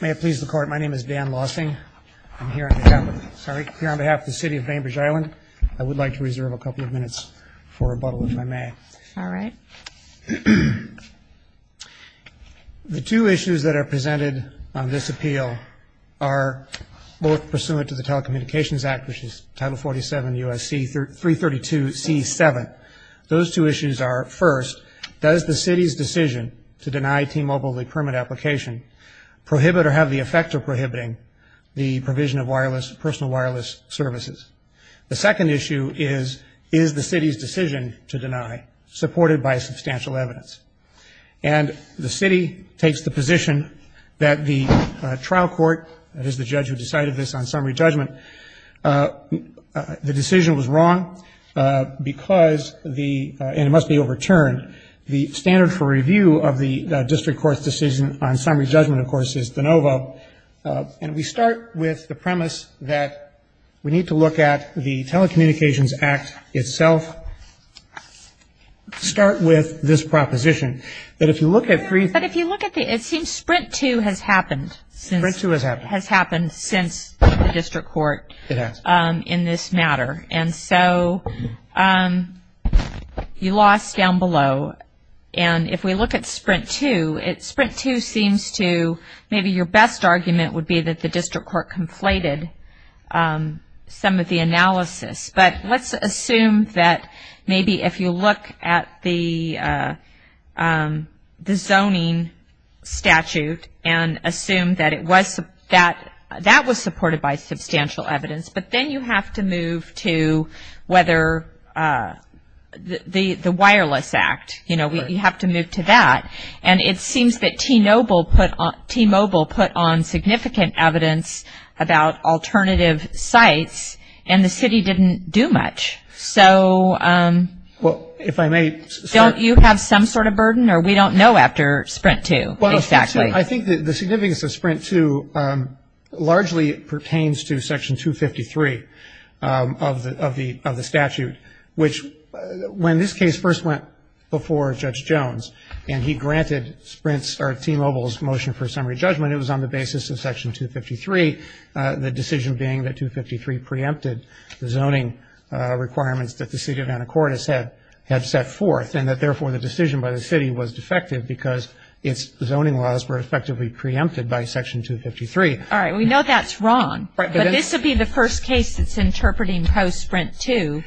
May it please the Court, my name is Dan Lausing. I'm here on behalf of the City of Bainbridge Island. I would like to reserve a couple of minutes for rebuttal, if I may. All right. The two issues that are presented on this appeal are both pursuant to the Telecommunications Act, which is Title 47 U.S.C. 332 C.7. Those two issues are, first, does the City's decision to deny T-Mobile the permit application prohibit or have the effect of prohibiting the provision of personal wireless services? The second issue is, is the City's decision to deny supported by substantial evidence? And the City takes the position that the trial court, that is the judge who decided this on summary judgment, the decision was wrong because the, and it must be overturned, the standard for review of the district court's decision on summary judgment, of course, is de novo. And we start with the premise that we need to look at the Telecommunications Act itself. Start with this proposition, that if you look at three But if you look at the, it seems Sprint 2 has happened. Sprint 2 has happened. Has happened since the district court. It has. In this matter. And so you lost down below. And if we look at Sprint 2, it, Sprint 2 seems to, maybe your best argument would be that the district court conflated some of the analysis. But let's assume that maybe if you look at the zoning statute and assume that it was, that that was supported by substantial evidence. But then you have to move to whether the Wireless Act, you know, you have to move to that. And it seems that T-Mobile put on significant evidence about alternative sites and the city didn't do much. So. Well, if I may. Don't you have some sort of burden or we don't know after Sprint 2 exactly. I think the significance of Sprint 2 largely pertains to Section 253 of the statute, which when this case first went before Judge Jones and he granted Sprint's or T-Mobile's motion for summary judgment, it was on the basis of Section 253, the decision being that 253 preempted the zoning requirements that the city of Anacortes had set forth and that therefore the decision by the city was defective because its zoning laws were effectively preempted by Section 253. All right. We know that's wrong. But this would be the first case that's interpreting post-Sprint 2.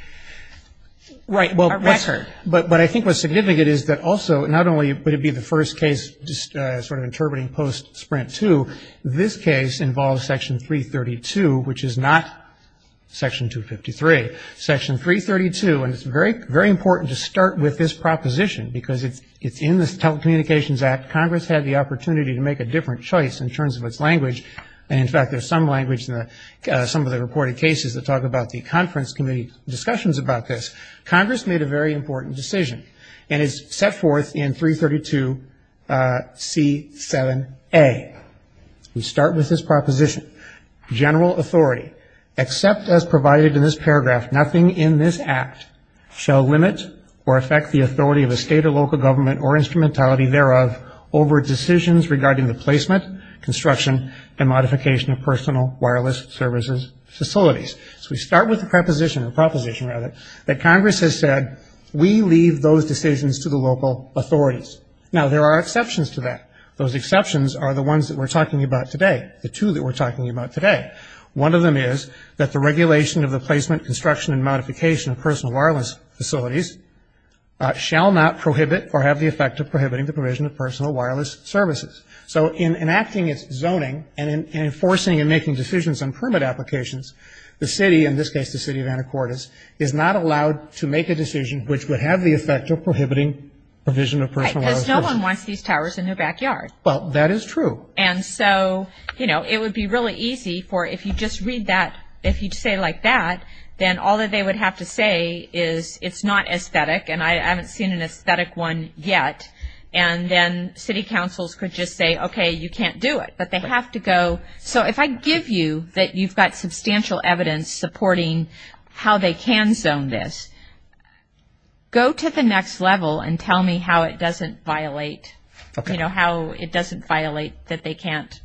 Right. But I think what's significant is that also, not only would it be the first case sort of interpreting post-Sprint 2, this case involves Section 332, which is not Section 253. Section 332, and it's very, very important to start with this proposition because it's in the Telecommunications Act. Congress had the opportunity to make a different choice in terms of its language. And, in fact, there's some language in some of the reported cases that talk about the conference committee discussions about this. Congress made a very important decision and it's set forth in 332C7A. We start with this proposition. General authority, except as provided in this paragraph, nothing in this act shall limit or affect the authority of a state or local government or instrumentality thereof over decisions regarding the placement, construction, and modification of personal wireless services facilities. So we start with the proposition that Congress has said, we leave those decisions to the local authorities. Now, there are exceptions to that. Those exceptions are the ones that we're talking about today, the two that we're talking about today. One of them is that the regulation of the placement, construction, and modification of personal wireless facilities shall not prohibit or have the effect of prohibiting the provision of personal wireless services. So in enacting its zoning and enforcing and making decisions on permit applications, the city, in this case the city of Anacortes, is not allowed to make a decision which would have the effect of prohibiting provision of personal wireless services. Because no one wants these towers in their backyard. Well, that is true. And so, you know, it would be really easy for if you just read that, if you say like that, then all that they would have to say is it's not aesthetic and I haven't seen an aesthetic one yet, and then city councils could just say, okay, you can't do it. But they have to go. So if I give you that you've got substantial evidence supporting how they can zone this, go to the next level and tell me how it doesn't violate, you know, how it doesn't violate that they can't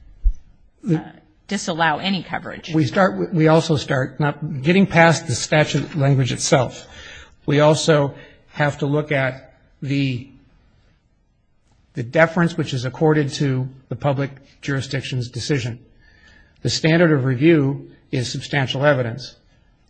disallow any coverage. We also start, getting past the statute language itself, we also have to look at the deference which is accorded to the public jurisdiction's decision. The standard of review is substantial evidence.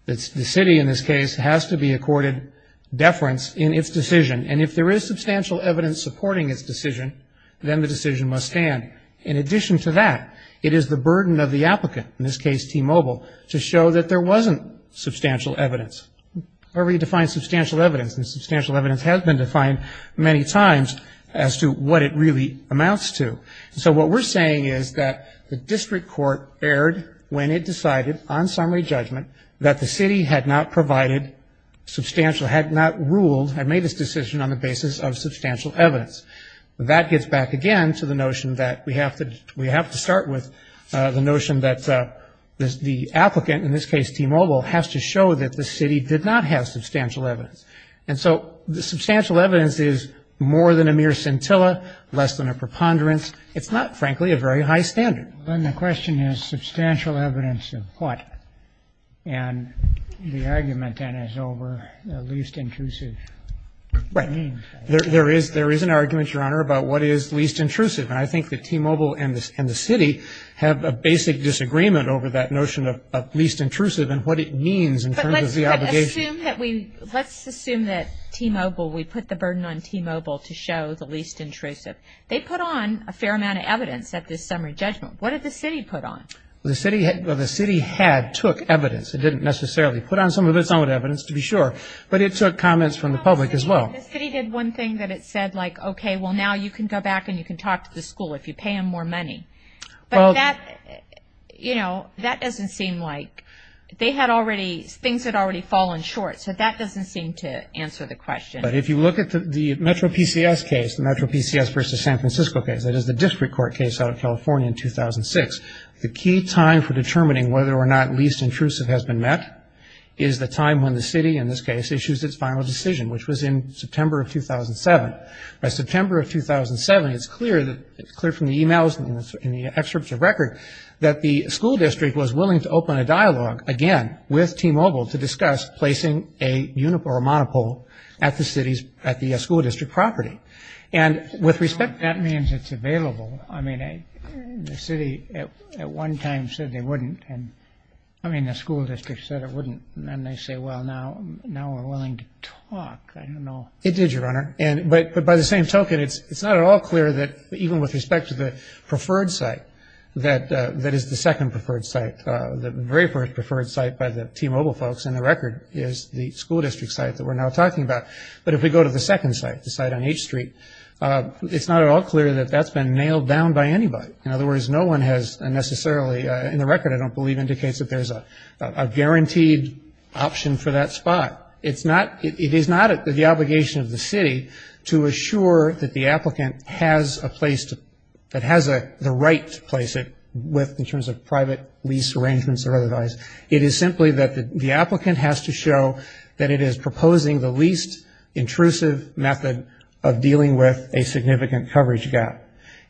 The city, in this case, has to be accorded deference in its decision. And if there is substantial evidence supporting its decision, then the decision must stand. In addition to that, it is the burden of the applicant, in this case T-Mobile, to show that there wasn't substantial evidence. How do we define substantial evidence? Substantial evidence has been defined many times as to what it really amounts to. So what we're saying is that the district court erred when it decided on summary judgment that the city had not provided substantial, had not ruled, had made this decision on the basis of substantial evidence. That gets back again to the notion that we have to start with the notion that the applicant, in this case T-Mobile, has to show that the city did not have substantial evidence. And so the substantial evidence is more than a mere scintilla, less than a preponderance. It's not, frankly, a very high standard. Then the question is substantial evidence of what? And the argument then is over least intrusive. Right. There is an argument, Your Honor, about what is least intrusive. And I think that T-Mobile and the city have a basic disagreement over that notion of least intrusive and what it means in terms of the obligation. But let's assume that T-Mobile, we put the burden on T-Mobile to show the least intrusive. They put on a fair amount of evidence at this summary judgment. What did the city put on? Well, the city had took evidence. It didn't necessarily put on some of its own evidence, to be sure, but it took comments from the public as well. The city did one thing that it said, like, okay, well, now you can go back and you can talk to the school if you pay them more money. But that, you know, that doesn't seem like they had already, things had already fallen short. So that doesn't seem to answer the question. But if you look at the Metro PCS case, the Metro PCS versus San Francisco case, that is the district court case out of California in 2006, the key time for determining whether or not least intrusive has been met is the time when the city, in this case, issues its final decision, which was in September of 2007. By September of 2007, it's clear from the e-mails and the excerpts of record that the school district was willing to open a dialogue, again, with T-Mobile to discuss placing a monopole at the school district property. And with respect to that. That means it's available. I mean, the city at one time said they wouldn't. I mean, the school district said it wouldn't. And they say, well, now we're willing to talk. I don't know. It did, Your Honor. But by the same token, it's not at all clear that even with respect to the preferred site, that is the second preferred site, the very first preferred site by the T-Mobile folks, and the record is the school district site that we're now talking about. But if we go to the second site, the site on H Street, it's not at all clear that that's been nailed down by anybody. In other words, no one has necessarily, in the record, I don't believe, indicates that there's a guaranteed option for that spot. It is not the obligation of the city to assure that the applicant has a place, that has the right to place it in terms of private lease arrangements or otherwise. It is simply that the applicant has to show that it is proposing the least intrusive method of dealing with a significant coverage gap.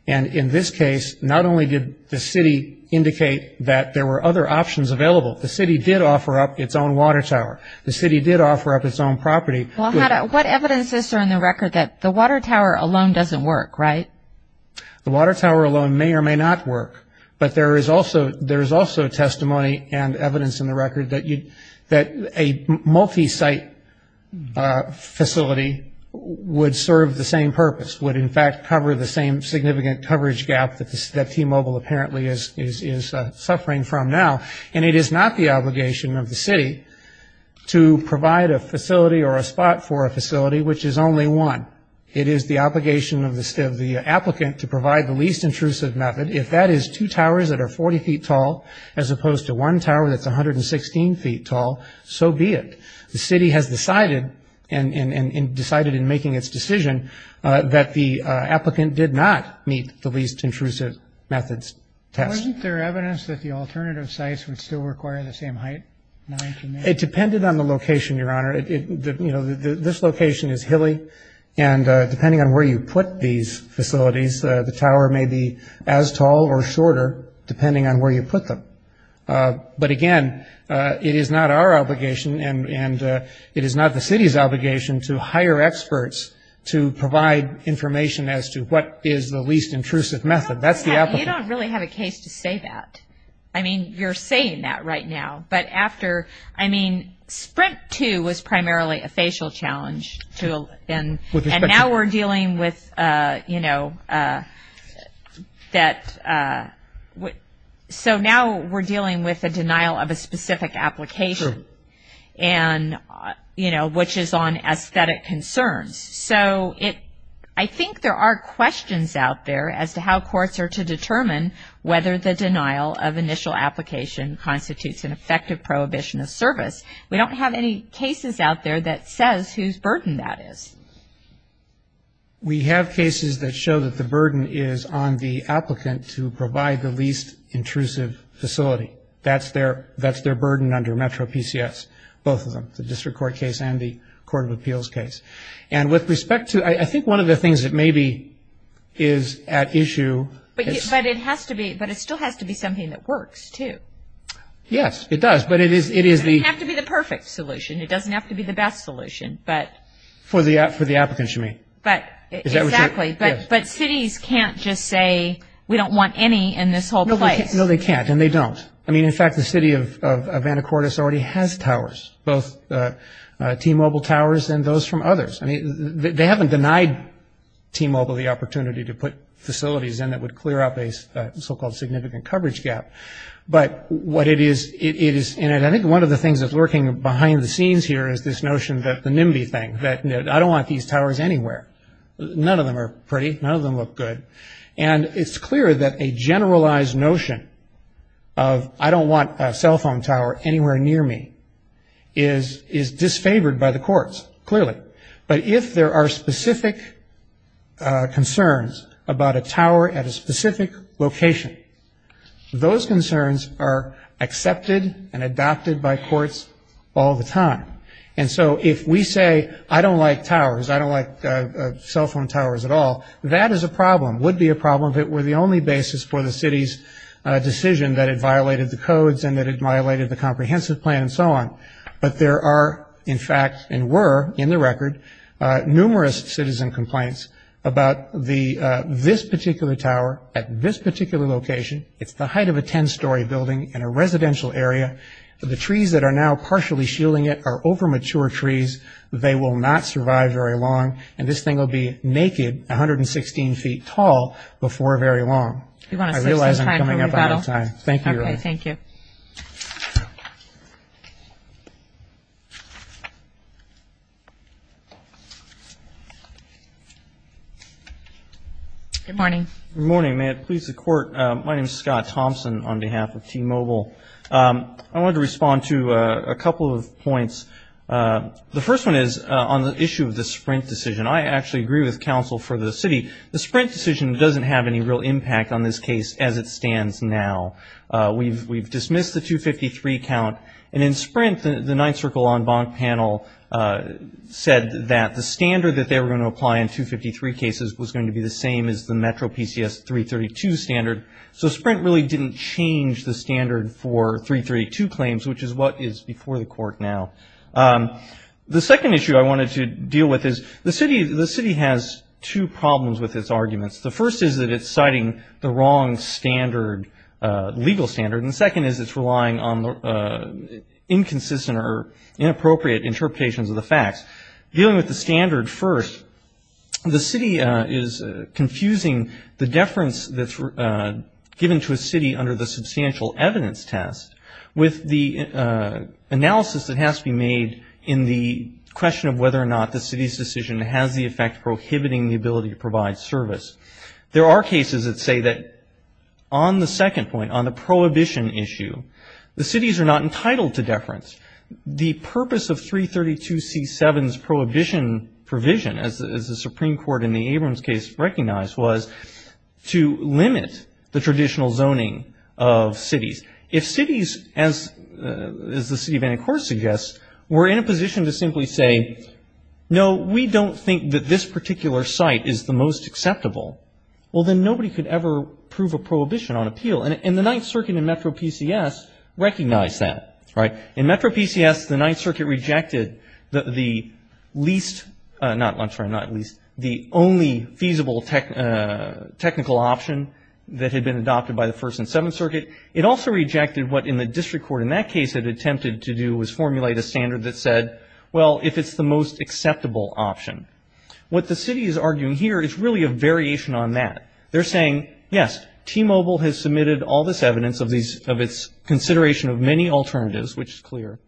And in this case, not only did the city indicate that there were other options available, the city did offer up its own water tower. The city did offer up its own property. Well, what evidence is there in the record that the water tower alone doesn't work, right? The water tower alone may or may not work, but there is also testimony and evidence in the record that a multi-site facility would serve the same purpose, would in fact cover the same significant coverage gap that T-Mobile apparently is suffering from now. And it is not the obligation of the city to provide a facility or a spot for a facility which is only one. It is the obligation of the applicant to provide the least intrusive method. If that is two towers that are 40 feet tall as opposed to one tower that's 116 feet tall, so be it. The city has decided and decided in making its decision that the applicant did not meet the least intrusive methods test. Wasn't there evidence that the alternative sites would still require the same height? It depended on the location, Your Honor. This location is hilly, and depending on where you put these facilities, the tower may be as tall or shorter depending on where you put them. But, again, it is not our obligation, and it is not the city's obligation, to hire experts to provide information as to what is the least intrusive method. That's the applicant. You don't really have a case to say that. I mean, you're saying that right now. But after, I mean, Sprint 2 was primarily a facial challenge, and now we're dealing with, you know, that. So now we're dealing with a denial of a specific application. True. And, you know, which is on aesthetic concerns. So I think there are questions out there as to how courts are to determine whether the denial of initial application constitutes an effective prohibition of service. We don't have any cases out there that says whose burden that is. We have cases that show that the burden is on the applicant to provide the least intrusive facility. That's their burden under Metro PCS, both of them, the district court case and the court of appeals case. And with respect to, I think one of the things that maybe is at issue. But it still has to be something that works, too. Yes, it does, but it is the. It doesn't have to be the perfect solution. It doesn't have to be the best solution, but. For the applicants, you mean. Exactly. But cities can't just say we don't want any in this whole place. No, they can't, and they don't. I mean, in fact, the city of Anacortes already has towers, both T-Mobile towers and those from others. They haven't denied T-Mobile the opportunity to put facilities in that would clear up a so-called significant coverage gap. But what it is, it is, and I think one of the things that's lurking behind the scenes here is this notion that the NIMBY thing, that I don't want these towers anywhere. None of them are pretty. None of them look good. And it's clear that a generalized notion of I don't want a cell phone tower anywhere near me is disfavored by the courts, clearly. But if there are specific concerns about a tower at a specific location, those concerns are accepted and adopted by courts all the time. And so if we say I don't like towers, I don't like cell phone towers at all, that is a problem, would be a problem if it were the only basis for the city's decision that it violated the codes and that it violated the comprehensive plan and so on. But there are, in fact, and were, in the record, numerous citizen complaints about this particular tower at this particular location. It's the height of a 10-story building in a residential area. The trees that are now partially shielding it are overmature trees. They will not survive very long. And this thing will be naked 116 feet tall before very long. I realize I'm coming up out of time. Thank you, Your Honor. Thank you. Good morning. Good morning. May it please the Court, my name is Scott Thompson on behalf of T-Mobile. I wanted to respond to a couple of points. The first one is on the issue of the Sprint decision. I actually agree with counsel for the city. The Sprint decision doesn't have any real impact on this case as it stands now. We've dismissed the 253 count. And in Sprint, the Ninth Circle En banc panel said that the standard that they were going to apply in 253 cases was going to be the same as the Metro PCS 332 standard. So Sprint really didn't change the standard for 332 claims, which is what is before the Court now. The second issue I wanted to deal with is the city has two problems with its arguments. The first is that it's citing the wrong standard, legal standard. And the second is it's relying on inconsistent or inappropriate interpretations of the facts. Dealing with the standard first, the city is confusing the deference that's given to a city under the substantial evidence test with the analysis that has to be made in the question of whether or not the city's decision has the effect prohibiting the ability to provide service. There are cases that say that on the second point, on the prohibition issue, the cities are not entitled to deference. The purpose of 332C7's prohibition provision, as the Supreme Court in the Abrams case recognized, was to limit the traditional zoning of cities. If cities, as the city of Anticor suggests, were in a position to simply say, no, we don't think that this particular site is the most acceptable, well, then nobody could ever prove a prohibition on appeal. And the Ninth Circuit in Metro PCS recognized that, right? In Metro PCS, the Ninth Circuit rejected the least, not least, the only feasible technical option that had been adopted by the First and Seventh Circuit. It also rejected what in the district court in that case had attempted to do was formulate a standard that said, well, if it's the most acceptable option. What the city is arguing here is really a variation on that. They're saying, yes, T-Mobile has submitted all this evidence of its consideration of many alternatives, which is clear,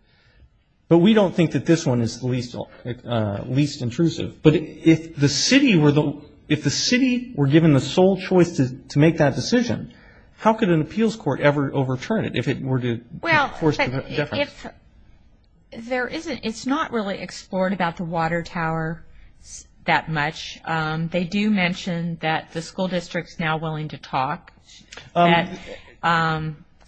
but we don't think that this one is the least intrusive. But if the city were given the sole choice to make that decision, how could an appeals court ever overturn it if it were to force deference? It's not really explored about the water tower that much. They do mention that the school district is now willing to talk.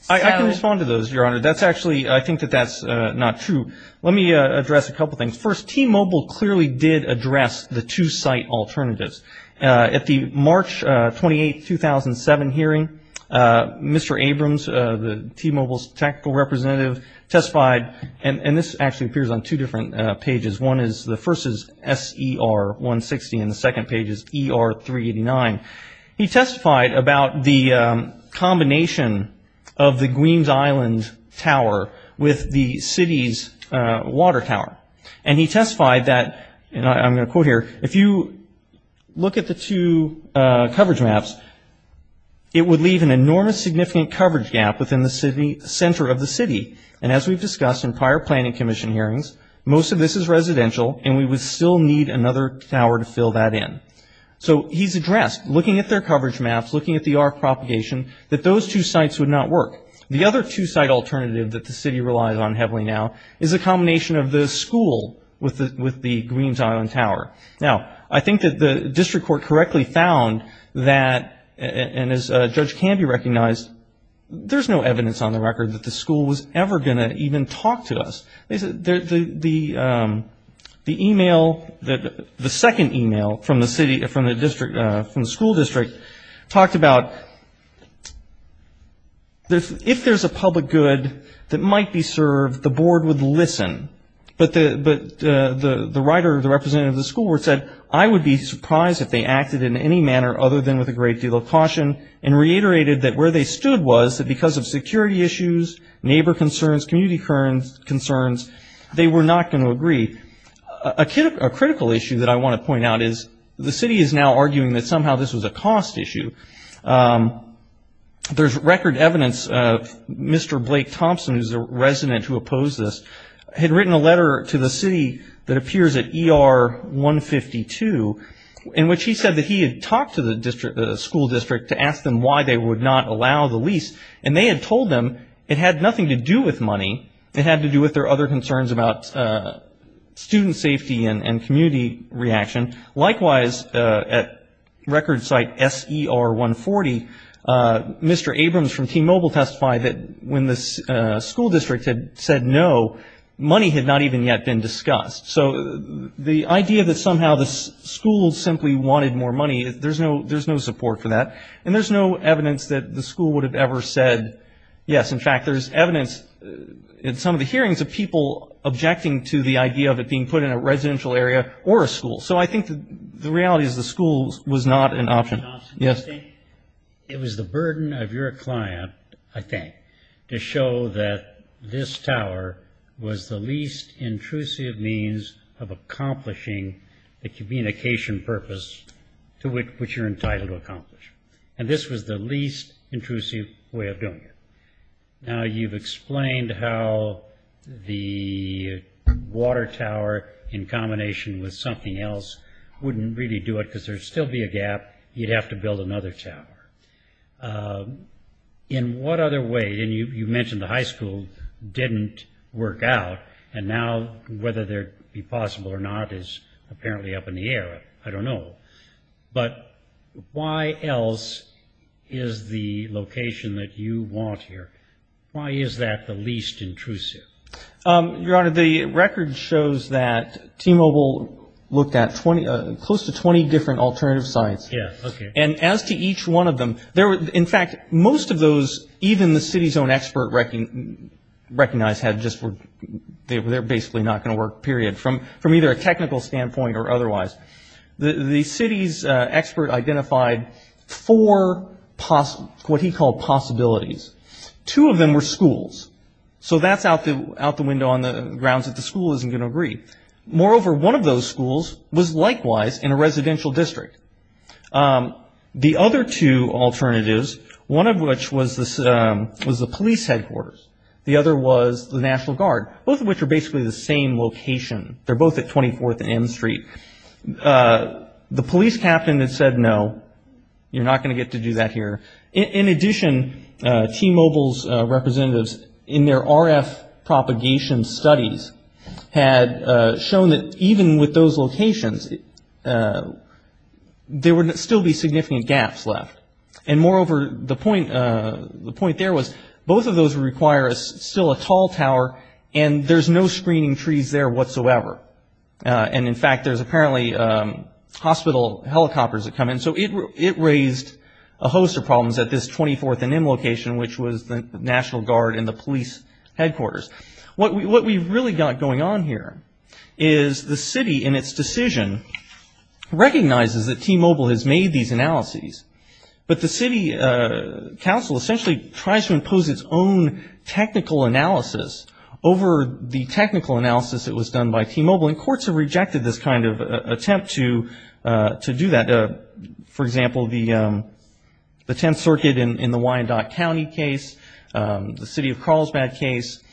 I can respond to those, Your Honor. That's actually, I think that that's not true. Let me address a couple things. First, T-Mobile clearly did address the two-site alternatives. At the March 28, 2007 hearing, Mr. Abrams, T-Mobile's technical representative, testified, and this actually appears on two different pages. One is, the first is S.E.R. 160 and the second page is E.R. 389. He testified about the combination of the Queens Island tower with the city's water tower. And he testified that, and I'm going to quote here, if you look at the two coverage maps, it would leave an enormous significant coverage gap within the center of the city. And as we've discussed in prior planning commission hearings, most of this is residential, and we would still need another tower to fill that in. So he's addressed, looking at their coverage maps, looking at the arc propagation, that those two sites would not work. The other two-site alternative that the city relies on heavily now is a combination of the school with the Queens Island tower. Now, I think that the district court correctly found that, and as a judge can be recognized, there's no evidence on the record that the school was ever going to even talk to us. The email, the second email from the school district talked about, if there's a public good that might be served, the board would listen. But the writer, the representative of the school board said, I would be surprised if they acted in any manner other than with a great deal of caution, and reiterated that where they stood was that because of security issues, neighbor concerns, community concerns, they were not going to agree. A critical issue that I want to point out is the city is now arguing that somehow this was a cost issue. There's record evidence, Mr. Blake Thompson, who's a resident who opposed this, had written a letter to the city that appears at ER 152, in which he said that he had talked to the school district to ask them why they would not allow the lease, and they had told them it had nothing to do with money. It had to do with their other concerns about student safety and community reaction. Likewise, at record site SER 140, Mr. Abrams from T-Mobile testified that when the school district had said no, money had not even yet been discussed. So the idea that somehow the school simply wanted more money, there's no support for that, and there's no evidence that the school would have ever said yes. In fact, there's evidence in some of the hearings of people objecting to the idea of it being put in a residential area or a school. So I think the reality is the school was not an option. Yes? It was the burden of your client, I think, to show that this tower was the least intrusive means of accomplishing the communication purpose to which you're entitled to accomplish, and this was the least intrusive way of doing it. Now, you've explained how the water tower in combination with something else wouldn't really do it because there would still be a gap. You'd have to build another tower. In what other way, and you mentioned the high school didn't work out, and now whether it would be possible or not is apparently up in the air. I don't know. But why else is the location that you want here, why is that the least intrusive? Your Honor, the record shows that T-Mobile looked at close to 20 different alternative sites. Yes, okay. And as to each one of them, in fact, most of those, even the city's own expert recognized, they're basically not going to work, period, from either a technical standpoint or otherwise. The city's expert identified four what he called possibilities. Two of them were schools. So that's out the window on the grounds that the school isn't going to agree. Moreover, one of those schools was likewise in a residential district. The other two alternatives, one of which was the police headquarters. The other was the National Guard, both of which are basically the same location. They're both at 24th and M Street. The police captain had said, no, you're not going to get to do that here. In addition, T-Mobile's representatives, in their RF propagation studies, had shown that even with those locations, there would still be significant gaps left. And moreover, the point there was both of those require still a tall tower, and there's no screening trees there whatsoever. And, in fact, there's apparently hospital helicopters that come in. So it raised a host of problems at this 24th and M location, which was the National Guard and the police headquarters. What we've really got going on here is the city, in its decision, recognizes that T-Mobile has made these analyses, but the city council essentially tries to impose its own technical analysis over the technical analysis that was done by T-Mobile, and courts have rejected this kind of attempt to do that. For example, the Tenth Circuit in the Wyandotte County case, the city of Carlsbad case.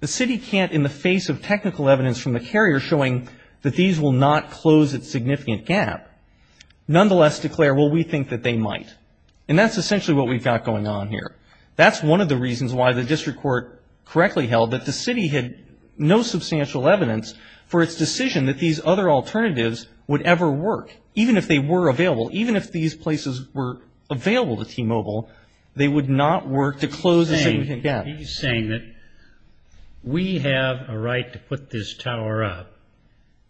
The city can't, in the face of technical evidence from the carrier showing that these will not close its significant gap, nonetheless declare, well, we think that they might. And that's essentially what we've got going on here. That's one of the reasons why the district court correctly held that the city had no substantial evidence for its decision that these other alternatives would ever work. Even if they were available, even if these places were available to T-Mobile, they would not work to close the significant gap. He's saying that we have a right to put this tower up,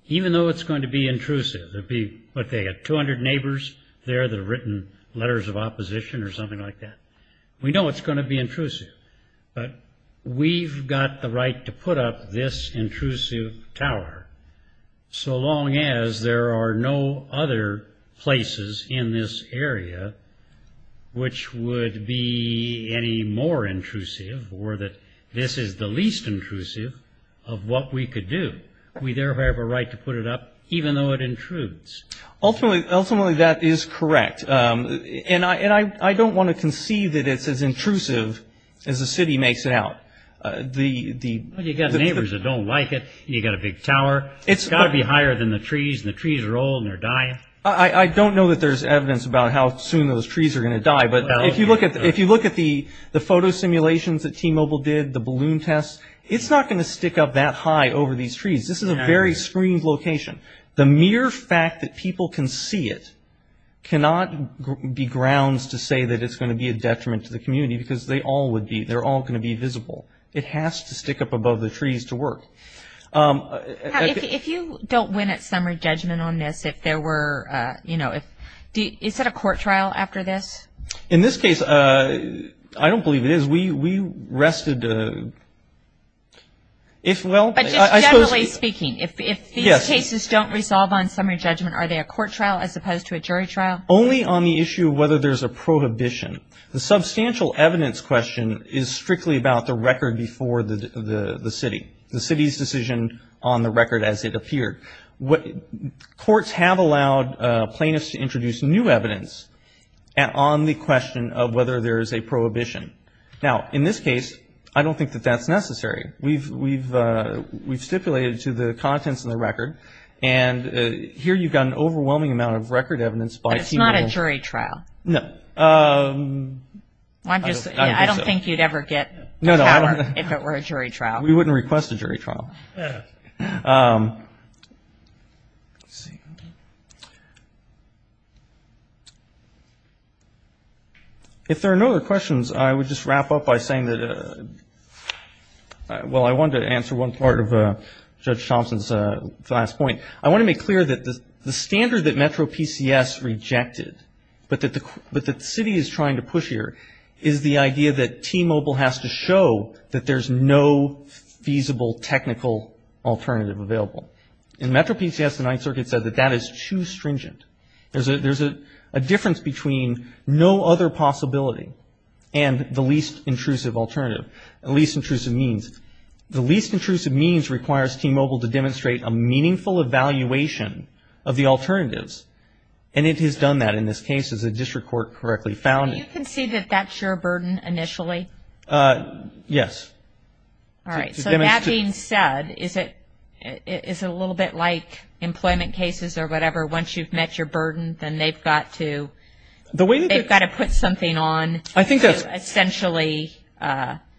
even though it's going to be intrusive. There'd be, what, they had 200 neighbors there that had written letters of opposition or something like that. We know it's going to be intrusive, but we've got the right to put up this intrusive tower, so long as there are no other places in this area which would be any more intrusive or that this is the least intrusive of what we could do. We therefore have a right to put it up, even though it intrudes. Ultimately, that is correct. And I don't want to conceive that it's as intrusive as the city makes it out. You've got neighbors that don't like it. You've got a big tower. It's got to be higher than the trees, and the trees are old and they're dying. I don't know that there's evidence about how soon those trees are going to die, but if you look at the photo simulations that T-Mobile did, the balloon tests, it's not going to stick up that high over these trees. This is a very screened location. The mere fact that people can see it cannot be grounds to say that it's going to be a detriment to the community because they all would be. They're all going to be visible. It has to stick up above the trees to work. If you don't win at summary judgment on this, if there were, you know, is that a court trial after this? In this case, I don't believe it is. We rested the – if, well, I suppose. But just generally speaking, if these cases don't resolve on summary judgment, are they a court trial as opposed to a jury trial? Only on the issue of whether there's a prohibition. The substantial evidence question is strictly about the record before the city, the city's decision on the record as it appeared. Courts have allowed plaintiffs to introduce new evidence on the question of whether there is a prohibition. Now, in this case, I don't think that that's necessary. We've stipulated to the contents of the record, and here you've got an overwhelming amount of record evidence by T-Mobile. But it's not a jury trial. No. I don't think you'd ever get the power if it were a jury trial. We wouldn't request a jury trial. Let's see. If there are no other questions, I would just wrap up by saying that – well, I wanted to answer one part of Judge Thompson's last point. I want to make clear that the standard that Metro PCS rejected, but that the city is trying to push here, is the idea that T-Mobile has to show that there's no feasible technical alternative available. In Metro PCS, the Ninth Circuit said that that is too stringent. There's a difference between no other possibility and the least intrusive alternative, the least intrusive means. The least intrusive means requires T-Mobile to demonstrate a meaningful evaluation of the alternatives, and it has done that in this case, as the district court correctly found it. So we can see that that's your burden initially? Yes. All right. So that being said, is it a little bit like employment cases or whatever? Once you've met your burden, then they've got to put something on to essentially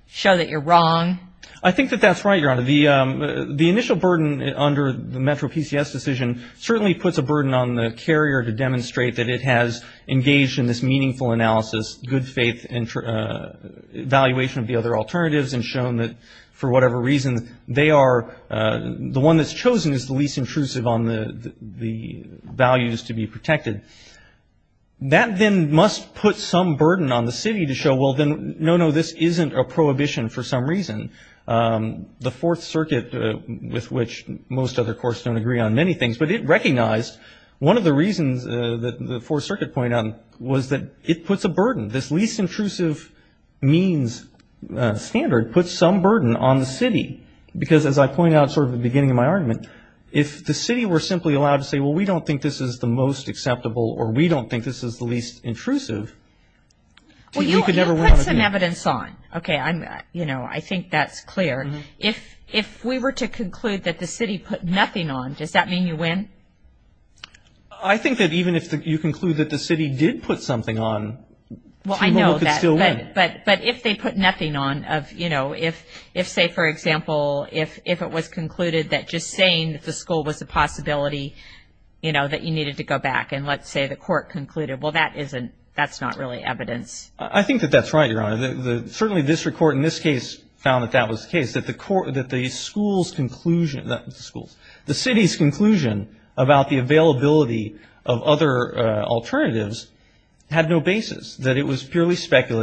show that you're wrong? I think that that's right, Your Honor. The initial burden under the Metro PCS decision certainly puts a burden on the carrier to demonstrate that it has engaged in this meaningful analysis, good faith evaluation of the other alternatives and shown that, for whatever reason, they are the one that's chosen is the least intrusive on the values to be protected. That then must put some burden on the city to show, well, then, no, no, this isn't a prohibition for some reason. The Fourth Circuit, with which most other courts don't agree on many things, but it recognized one of the reasons that the Fourth Circuit pointed out was that it puts a burden. This least intrusive means standard puts some burden on the city because, as I point out sort of at the beginning of my argument, if the city were simply allowed to say, well, we don't think this is the most acceptable or we don't think this is the least intrusive, you could never win on a case. Well, you put some evidence on. Okay. You know, I think that's clear. If we were to conclude that the city put nothing on, does that mean you win? I think that even if you conclude that the city did put something on, we could still win. Well, I know, but if they put nothing on, you know, if, say, for example, if it was concluded that just saying that the school was a possibility, you know, that you needed to go back and let's say the court concluded, well, that's not really evidence. I think that that's right, Your Honor. Certainly district court in this case found that that was the case, that the school's conclusion, not the school's, the city's conclusion about the availability of other alternatives had no basis, that it was purely speculative.